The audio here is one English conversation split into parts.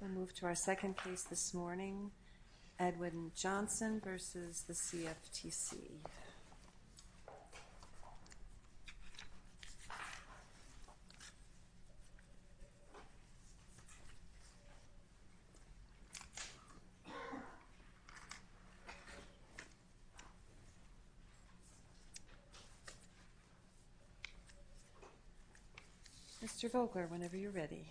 We'll move to our second case this morning, Edwin Johnson v. CFTC. Mr. Volkler, whenever you're ready. Mr.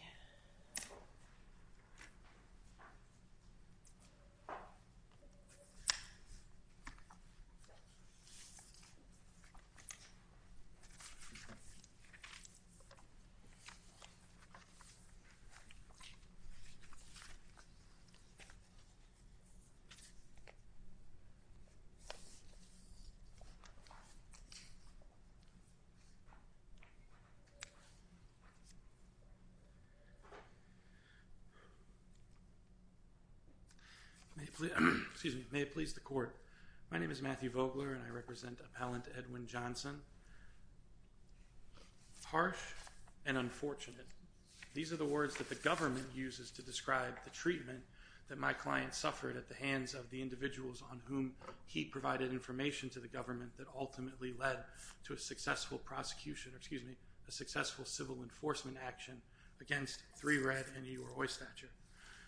Volkler. I represent appellant Edwin Johnson. Harsh and unfortunate. These are the words that the government uses to describe the treatment that my client suffered at the hands of the individuals on whom he provided information to the government that ultimately led to a successful prosecution, or excuse me, a successful civil enforcement action against 3RED and the U.R.O.I. statute.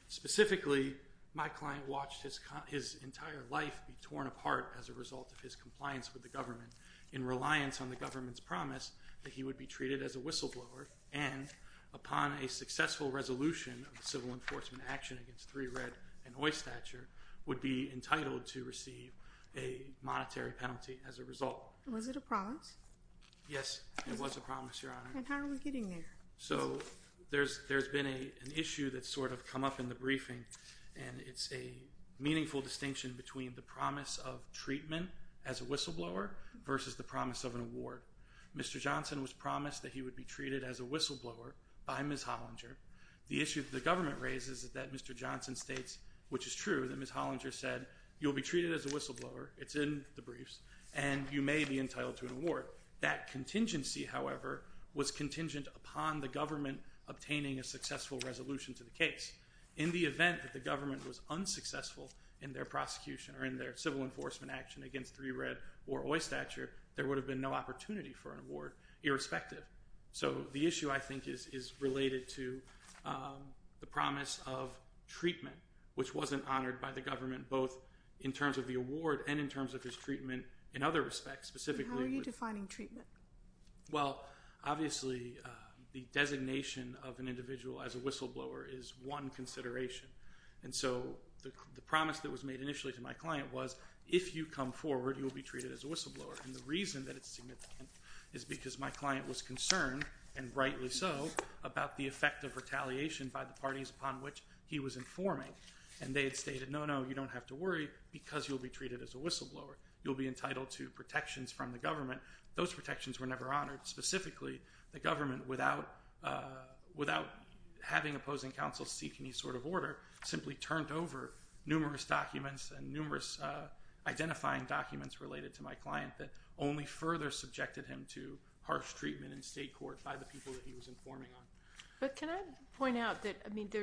Specifically, my client watched his entire life be torn apart as a result of his compliance with the government in reliance on the government's promise that he would be treated as a whistleblower and upon a successful resolution of the civil enforcement action against 3RED and U.R.O.I. statute would be entitled to receive a monetary penalty as a result. Was it a promise? Yes, it was a promise, Your Honor. And how are we getting there? So there's been an issue that's sort of come up in the briefing, and it's a meaningful distinction between the promise of treatment as a whistleblower versus the promise of an award. Mr. Johnson was promised that he would be treated as a whistleblower by Ms. Hollinger. The issue that the government raises is that Mr. Johnson states, which is true, that Ms. Hollinger said, you'll be treated as a whistleblower, it's in the briefs, and you may be entitled to an award. That contingency, however, was contingent upon the government obtaining a successful resolution to the case. In the event that the government was unsuccessful in their prosecution or in their civil enforcement action against 3RED or U.R.O.I. statute, there would have been no opportunity for an award, irrespective. So the issue, I think, is related to the promise of treatment, which wasn't honored by the government both in terms of the award and in terms of his treatment in other respects, specifically. How are you defining treatment? Well, obviously, the designation of an individual as a whistleblower is one consideration. And so the promise that was made initially to my client was, if you come forward, you'll be treated as a whistleblower. And the reason that it's significant is because my client was concerned, and rightly so, about the effect of retaliation by the parties upon which he was informing. And they had stated, no, no, you don't have to worry because you'll be treated as a whistleblower. You'll be entitled to protections from the government. Those protections were never honored. Specifically, the government, without having opposing counsel seek any sort of order, simply turned over numerous documents and numerous identifying documents related to my client that only further subjected him to harsh treatment in state court by the people that he was informing on. But can I point out that, I mean, the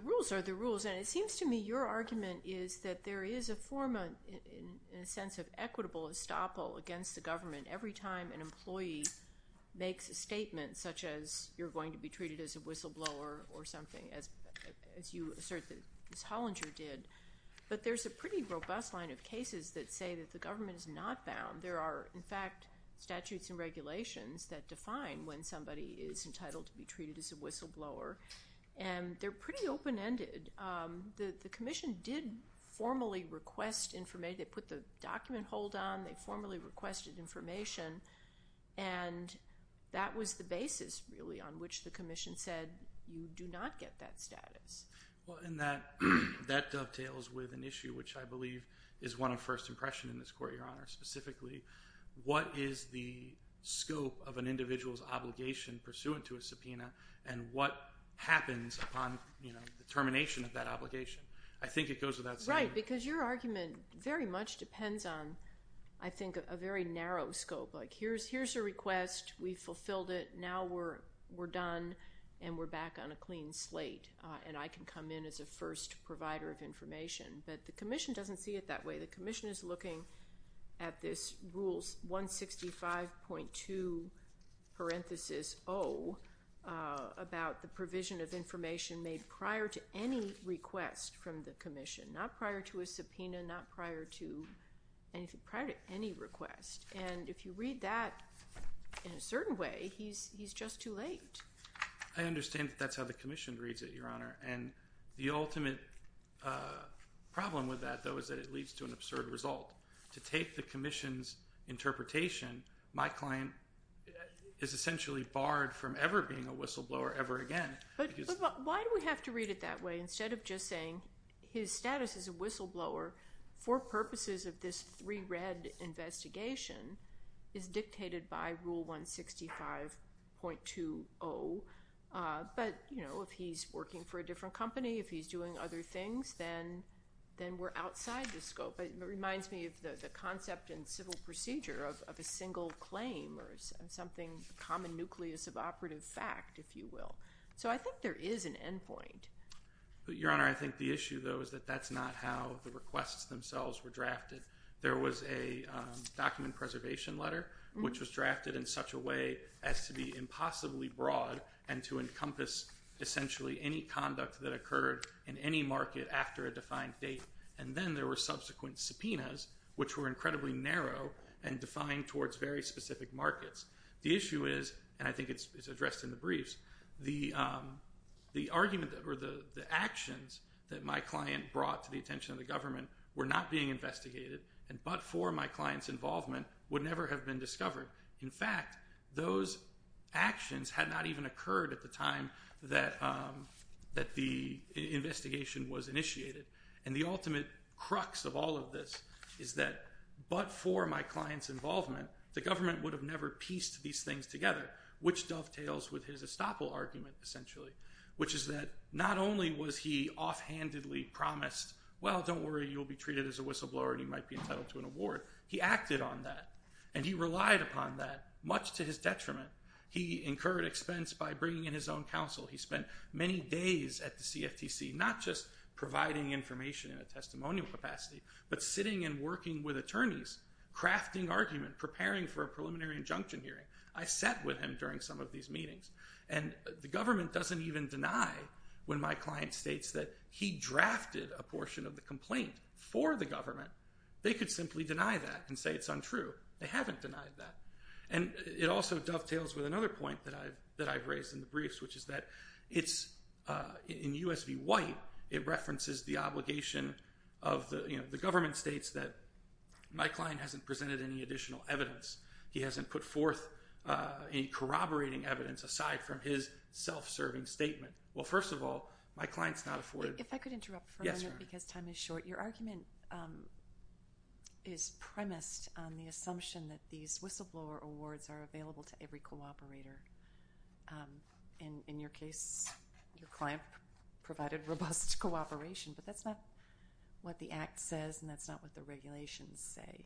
rules are the rules. And it seems to me your argument is that there is a form, in a sense, of equitable estoppel against the government every time an employee makes a statement, such as you're going to be treated as a whistleblower or something, as you assert that Ms. Hollinger did. But there's a pretty robust line of cases that say that the government is not bound. There are, in fact, statutes and regulations that define when somebody is entitled to be treated as a whistleblower. And they're pretty open-ended. The commission did formally request information. They put the document hold on. They formally requested information. And that was the basis, really, on which the commission said you do not get that status. Well, and that dovetails with an issue which I believe is one of first impression in this court, Your Honor. Specifically, what is the scope of an individual's obligation pursuant to a subpoena and what happens upon the termination of that obligation? I think it goes without saying. Right, because your argument very much depends on, I think, a very narrow scope. Like here's a request. We fulfilled it. Now we're done and we're back on a clean slate, and I can come in as a first provider of information. But the commission doesn't see it that way. The commission is looking at this Rule 165.2, parenthesis O, about the provision of information made prior to any request from the commission. Not prior to a subpoena, not prior to any request. And if you read that in a certain way, he's just too late. I understand that that's how the commission reads it, Your Honor. And the ultimate problem with that, though, is that it leads to an absurd result. To take the commission's interpretation, my claim is essentially barred from ever being a whistleblower ever again. But why do we have to read it that way? Instead of just saying his status as a whistleblower for purposes of this three-red investigation is dictated by Rule 165.20. But, you know, if he's working for a different company, if he's doing other things, then we're outside the scope. It reminds me of the concept in civil procedure of a single claim or something, a common nucleus of operative fact, if you will. So I think there is an end point. But, Your Honor, I think the issue, though, is that that's not how the requests themselves were drafted. There was a document preservation letter, which was drafted in such a way as to be impossibly broad and to encompass essentially any conduct that occurred in any market after a defined date. And then there were subsequent subpoenas, which were incredibly narrow and defined towards very specific markets. The issue is, and I think it's addressed in the briefs, the argument or the actions that my client brought to the attention of the government were not being investigated and but for my client's involvement would never have been discovered. In fact, those actions had not even occurred at the time that the investigation was initiated. And the ultimate crux of all of this is that but for my client's involvement, the government would have never pieced these things together, which dovetails with his estoppel argument, essentially, which is that not only was he offhandedly promised, well, don't worry, you'll be treated as a whistleblower and you might be entitled to an award. He acted on that and he relied upon that. Much to his detriment, he incurred expense by bringing in his own counsel. He spent many days at the CFTC, not just providing information in a testimonial capacity, but sitting and working with attorneys, crafting argument, preparing for a preliminary injunction hearing. I sat with him during some of these meetings. And the government doesn't even deny when my client states that he drafted a portion of the complaint for the government. They could simply deny that and say it's untrue. They haven't denied that. And it also dovetails with another point that I've raised in the briefs, that in U.S. v. White, it references the obligation of the government states that my client hasn't presented any additional evidence. He hasn't put forth any corroborating evidence aside from his self-serving statement. Well, first of all, my client's not afforded- If I could interrupt for a minute because time is short. Your argument is premised on the assumption that these whistleblower awards are available to every cooperator. And in your case, your client provided robust cooperation. But that's not what the Act says, and that's not what the regulations say.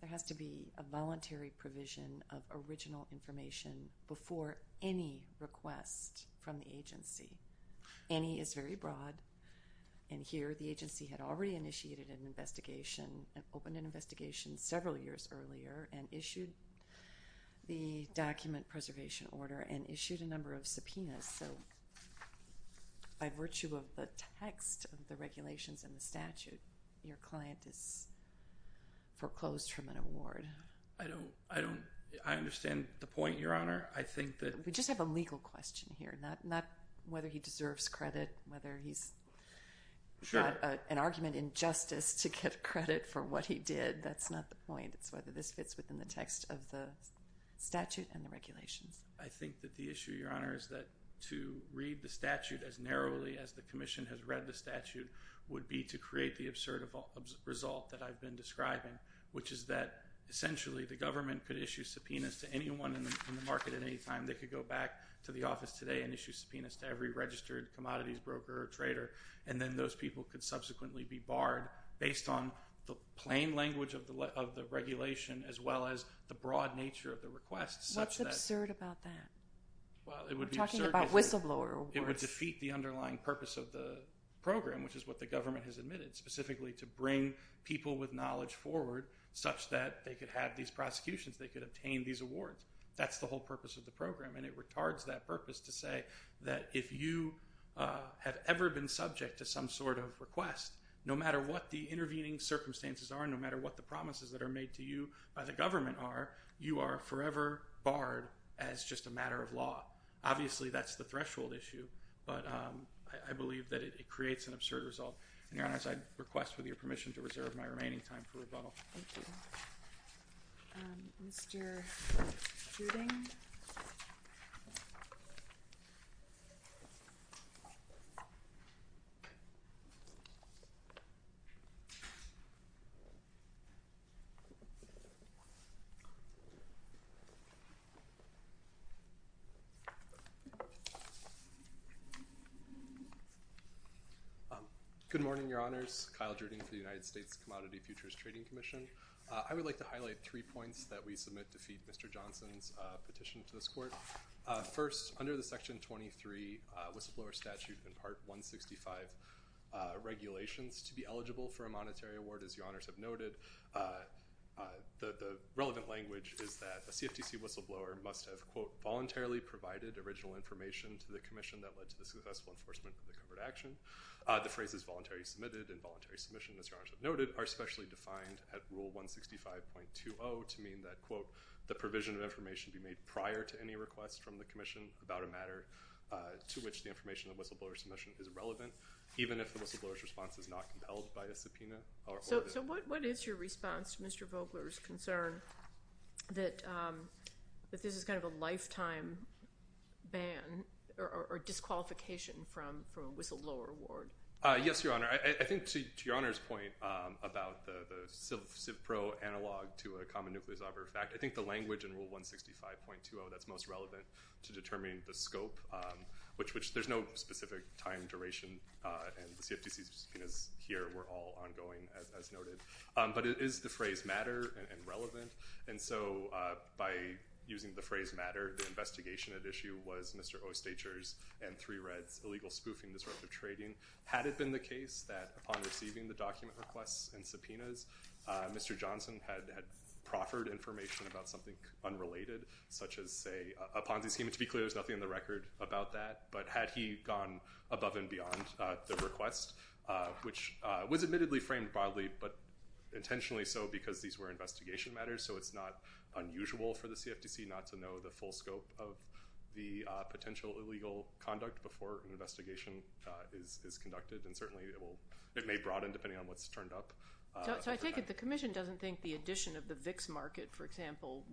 There has to be a voluntary provision of original information before any request from the agency. Any is very broad. And here, the agency had already initiated an investigation and opened an investigation several years earlier and issued the document preservation order and issued a number of subpoenas. So by virtue of the text of the regulations and the statute, your client is foreclosed from an award. I don't- I understand the point, Your Honor. I think that- We just have a legal question here, not whether he deserves credit, whether he's got an argument in justice to get credit for what he did. That's not the point. It's whether this fits within the text of the statute and the regulations. I think that the issue, Your Honor, is that to read the statute as narrowly as the Commission has read the statute would be to create the absurd result that I've been describing, which is that essentially the government could issue subpoenas to anyone in the market at any time. They could go back to the office today and issue subpoenas to every registered commodities broker or trader, and then those people could subsequently be barred based on the plain language of the regulation as well as the broad nature of the request such that- What's absurd about that? Well, it would be absurd- We're talking about whistleblower awards. It would defeat the underlying purpose of the program, which is what the government has admitted, specifically to bring people with knowledge forward such that they could have these prosecutions, they could obtain these awards. That's the whole purpose of the program, and it retards that purpose to say that if you have ever been subject to some sort of request, no matter what the intervening circumstances are, no matter what the promises that are made to you by the government are, you are forever barred as just a matter of law. Obviously, that's the threshold issue, but I believe that it creates an absurd result. And, Your Honor, as I request, with your permission, to reserve my remaining time for rebuttal. Thank you. Mr. Juding? Good morning, Your Honors. Kyle Juding for the United States Commodity Futures Trading Commission. I would like to highlight three points that we submit to feed Mr. Johnson's petition to this court. First, under the Section 23 whistleblower statute and Part 165 regulations, to be eligible for a monetary award, as Your Honors have noted, the relevant language is that a CFTC whistleblower must have, quote, voluntarily provided original information to the commission that led to the successful enforcement of the covered action. The phrases voluntary submitted and voluntary submission, as Your Honors have noted, are specially defined at Rule 165.20 to mean that, quote, the provision of information be made prior to any request from the commission about a matter to which the information of whistleblower submission is relevant, even if the whistleblower's response is not compelled by a subpoena. So what is your response to Mr. Vogler's concern that this is kind of a lifetime ban or disqualification from a whistleblower award? Yes, Your Honor. I think, to Your Honor's point about the CIVPRO analog to a common nucleus offer fact, I think the language in Rule 165.20 that's most relevant to determining the scope, which there's no specific time duration, and the CFTC's subpoenas here were all ongoing, as noted. But is the phrase matter and relevant? And so by using the phrase matter, the investigation at issue was Mr. Osteicher's and Three Red's illegal spoofing, disruptive trading. Had it been the case that upon receiving the document requests and subpoenas, Mr. Johnson had proffered information about something unrelated, such as, say, a Ponzi scheme? To be clear, there's nothing on the record about that. But had he gone above and beyond the request, which was admittedly framed broadly, but intentionally so because these were investigation matters, so it's not unusual for the CFTC not to know the full scope of the potential illegal conduct before an investigation is conducted. And certainly it may broaden depending on what's turned up. So I take it the Commission doesn't think the addition of the VIX market, for example,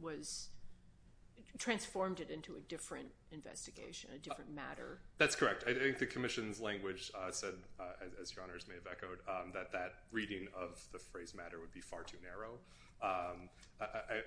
transformed it into a different investigation, a different matter? That's correct. I think the Commission's language said, as Your Honors may have echoed, that that reading of the phrase matter would be far too narrow,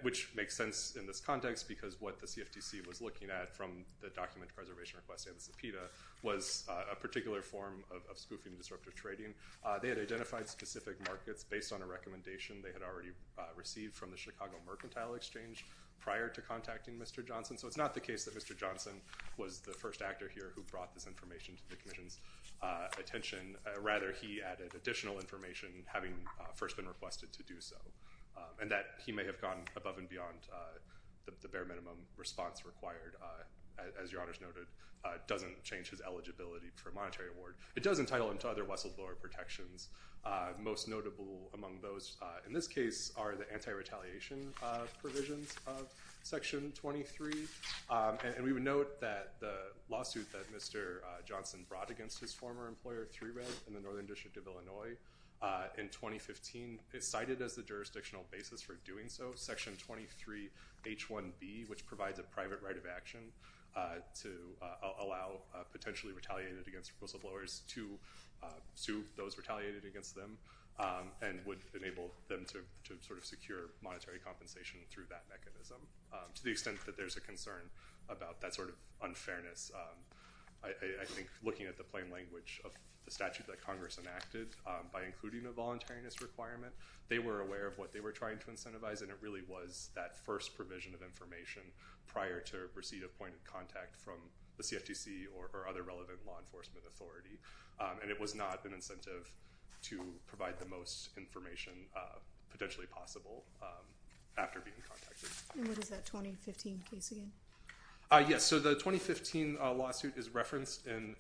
which makes sense in this context because what the CFTC was looking at from the document preservation request and the subpoena was a particular form of spoofing and disruptive trading. They had identified specific markets based on a recommendation they had already received from the Chicago Mercantile Exchange prior to contacting Mr. Johnson. So it's not the case that Mr. Johnson was the first actor here who brought this information to the Commission's attention. Rather, he added additional information, having first been requested to do so, and that he may have gone above and beyond the bare minimum response required, as Your Honors noted, doesn't change his eligibility for a monetary award. It does entitle him to other whistleblower protections. Most notable among those in this case are the anti-retaliation provisions of Section 23. And we would note that the lawsuit that Mr. Johnson brought against his former employer, 3RED, in the Northern District of Illinois in 2015 is cited as the jurisdictional basis for doing so. Section 23H1B, which provides a private right of action to allow potentially retaliated against whistleblowers to sue those retaliated against them and would enable them to secure monetary compensation through that mechanism. To the extent that there's a concern about that sort of unfairness, I think looking at the plain language of the statute that Congress enacted, by including a voluntariness requirement, they were aware of what they were trying to incentivize, and it really was that first provision of information prior to receipt of point of contact from the CFTC or other relevant law enforcement authority. And it was not an incentive to provide the most information potentially possible after being contacted. And what is that 2015 case again? Yes, so the 2015 lawsuit is referenced in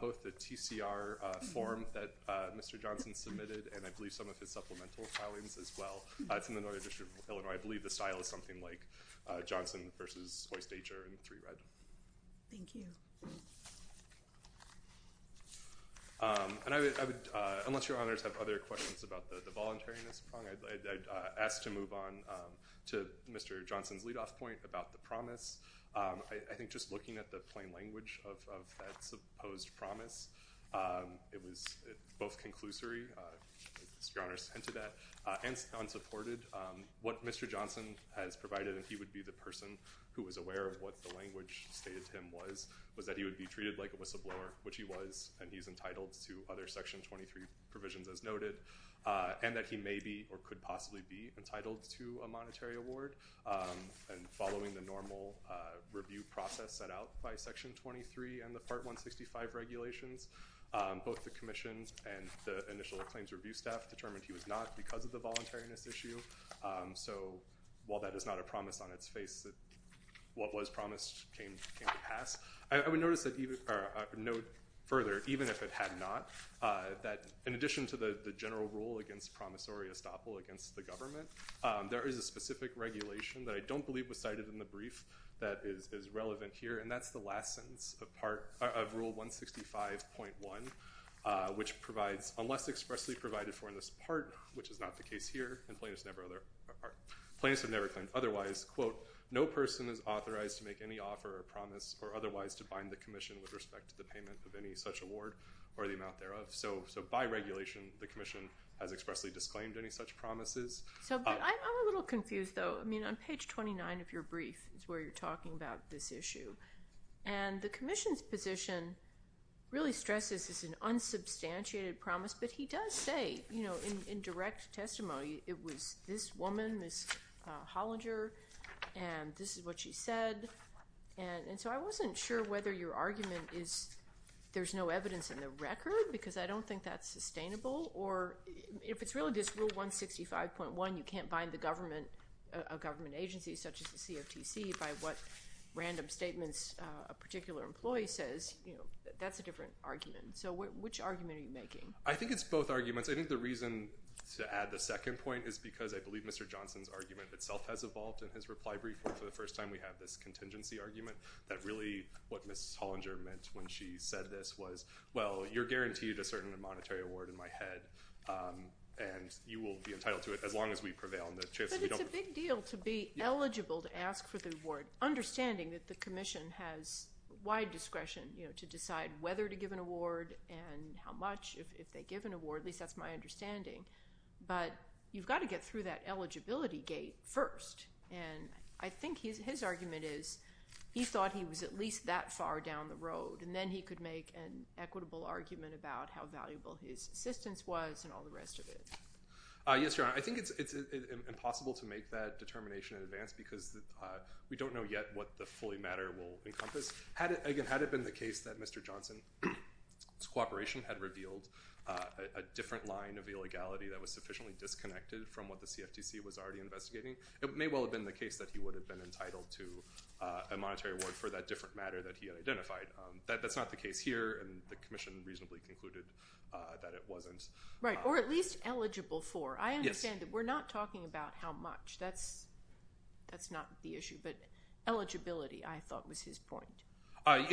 both the TCR form that Mr. Johnson submitted and I believe some of his supplemental filings as well. It's in the Northern District of Illinois. I believe the style is something like Johnson versus Oyster and 3RED. Thank you. And I would, unless your honors have other questions about the voluntariness prong, I'd ask to move on to Mr. Johnson's leadoff point about the promise. I think just looking at the plain language of that supposed promise, it was both conclusory, as your honors hinted at, and unsupported. What Mr. Johnson has provided, and he would be the person who was aware of what the language stated to him was, was that he would be treated like a whistleblower, which he was, and he's entitled to other Section 23 provisions as noted, and that he may be or could possibly be entitled to a monetary award. And following the normal review process set out by Section 23 and the Part 165 regulations, both the Commission and the initial claims review staff determined he was not because of the voluntariness issue. So while that is not a promise on its face, what was promised came to pass. I would note further, even if it had not, that in addition to the general rule against promissory estoppel against the government, there is a specific regulation that I don't believe was cited in the brief that is relevant here, and that's the last sentence of Rule 165.1, which provides, unless expressly provided for in this part, which is not the case here, and plaintiffs have never claimed otherwise, quote, no person is authorized to make any offer or promise or otherwise to bind the Commission with respect to the payment of any such award or the amount thereof. So by regulation, the Commission has expressly disclaimed any such promises. So I'm a little confused, though. I mean, on page 29 of your brief is where you're talking about this issue. And the Commission's position really stresses this is an unsubstantiated promise, but he does say in direct testimony it was this woman, Ms. Hollinger, and this is what she said. And so I wasn't sure whether your argument is there's no evidence in the record, because I don't think that's sustainable, or if it's really just Rule 165.1, you can't bind a government agency such as the CFTC by what random statements a particular employee says. That's a different argument. So which argument are you making? I think it's both arguments. I think the reason to add the second point is because I believe Mr. Johnson's argument itself has evolved in his reply brief where for the first time we have this contingency argument that really what Ms. Hollinger meant when she said this was, well, you're guaranteed a certain monetary award in my head, and you will be entitled to it as long as we prevail. But it's a big deal to be eligible to ask for the award, understanding that the Commission has wide discretion to decide whether to give an award and how much if they give an award, at least that's my understanding. But you've got to get through that eligibility gate first. And I think his argument is he thought he was at least that far down the road, and then he could make an equitable argument about how valuable his assistance was and all the rest of it. Yes, Your Honor. I think it's impossible to make that determination in advance because we don't know yet what the fully matter will encompass. Had it been the case that Mr. Johnson's cooperation had revealed a different line of illegality that was sufficiently disconnected from what the CFTC was already investigating, it may well have been the case that he would have been entitled to a monetary award for that different matter that he had identified. That's not the case here, and the Commission reasonably concluded that it wasn't. Right. Or at least eligible for. Yes. I understand that we're not talking about how much. That's not the issue. But eligibility, I thought, was his point.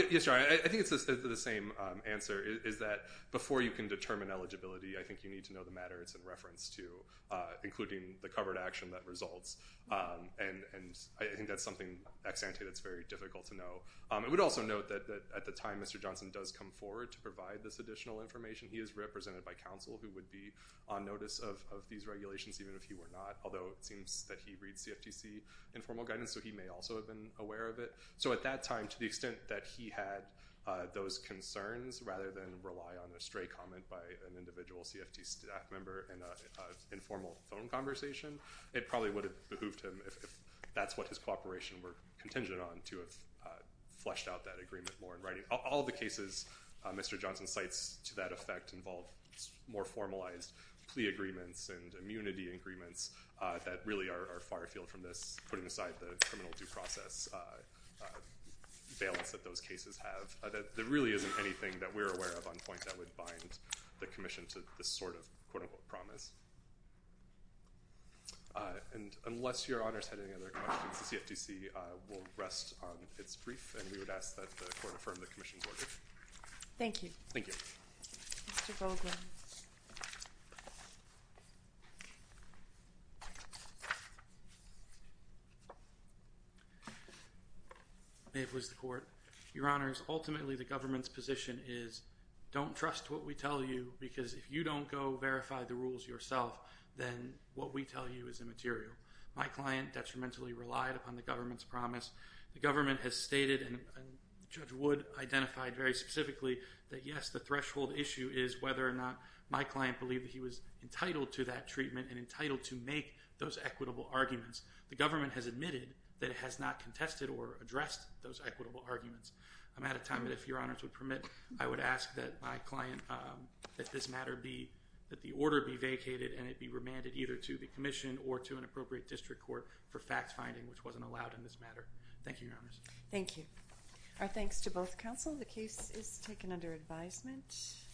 Yes, Your Honor. I think it's the same answer, is that before you can determine eligibility, I think you need to know the matter it's in reference to, including the covered action that results. And I think that's something, ex ante, that's very difficult to know. I would also note that at the time Mr. Johnson does come forward to provide this additional information, he is represented by counsel who would be on notice of these regulations even if he were not, although it seems that he reads CFTC informal guidance, so he may also have been aware of it. So at that time, to the extent that he had those concerns rather than rely on a stray comment by an individual CFTC staff member in an informal phone conversation, it probably would have behooved him, if that's what his cooperation were contingent on, to have fleshed out that agreement more in writing. All the cases Mr. Johnson cites to that effect involve more formalized plea agreements and immunity agreements that really are far afield from this, putting aside the criminal due process balance that those cases have. There really isn't anything that we're aware of on point that would bind the Commission to this sort of quote-unquote promise. And unless Your Honor has had any other questions, the CFTC will rest on its brief, and we would ask that the Court affirm the Commission's order. Thank you. Thank you. Mr. Goldwin. May it please the Court. Your Honors, ultimately the government's position is, don't trust what we tell you because if you don't go verify the rules yourself, then what we tell you is immaterial. The government has stated, and Judge Wood identified very specifically, that yes, the threshold issue is whether or not my client believed that he was entitled to that treatment and entitled to make those equitable arguments. The government has admitted that it has not contested or addressed those equitable arguments. I'm out of time, but if Your Honors would permit, I would ask that my client, that this matter be, that the order be vacated and it be remanded either to the Commission or to an appropriate district court for fact-finding, which wasn't allowed in this matter. Thank you, Your Honors. Thank you. Our thanks to both counsel. The case is taken under advisement.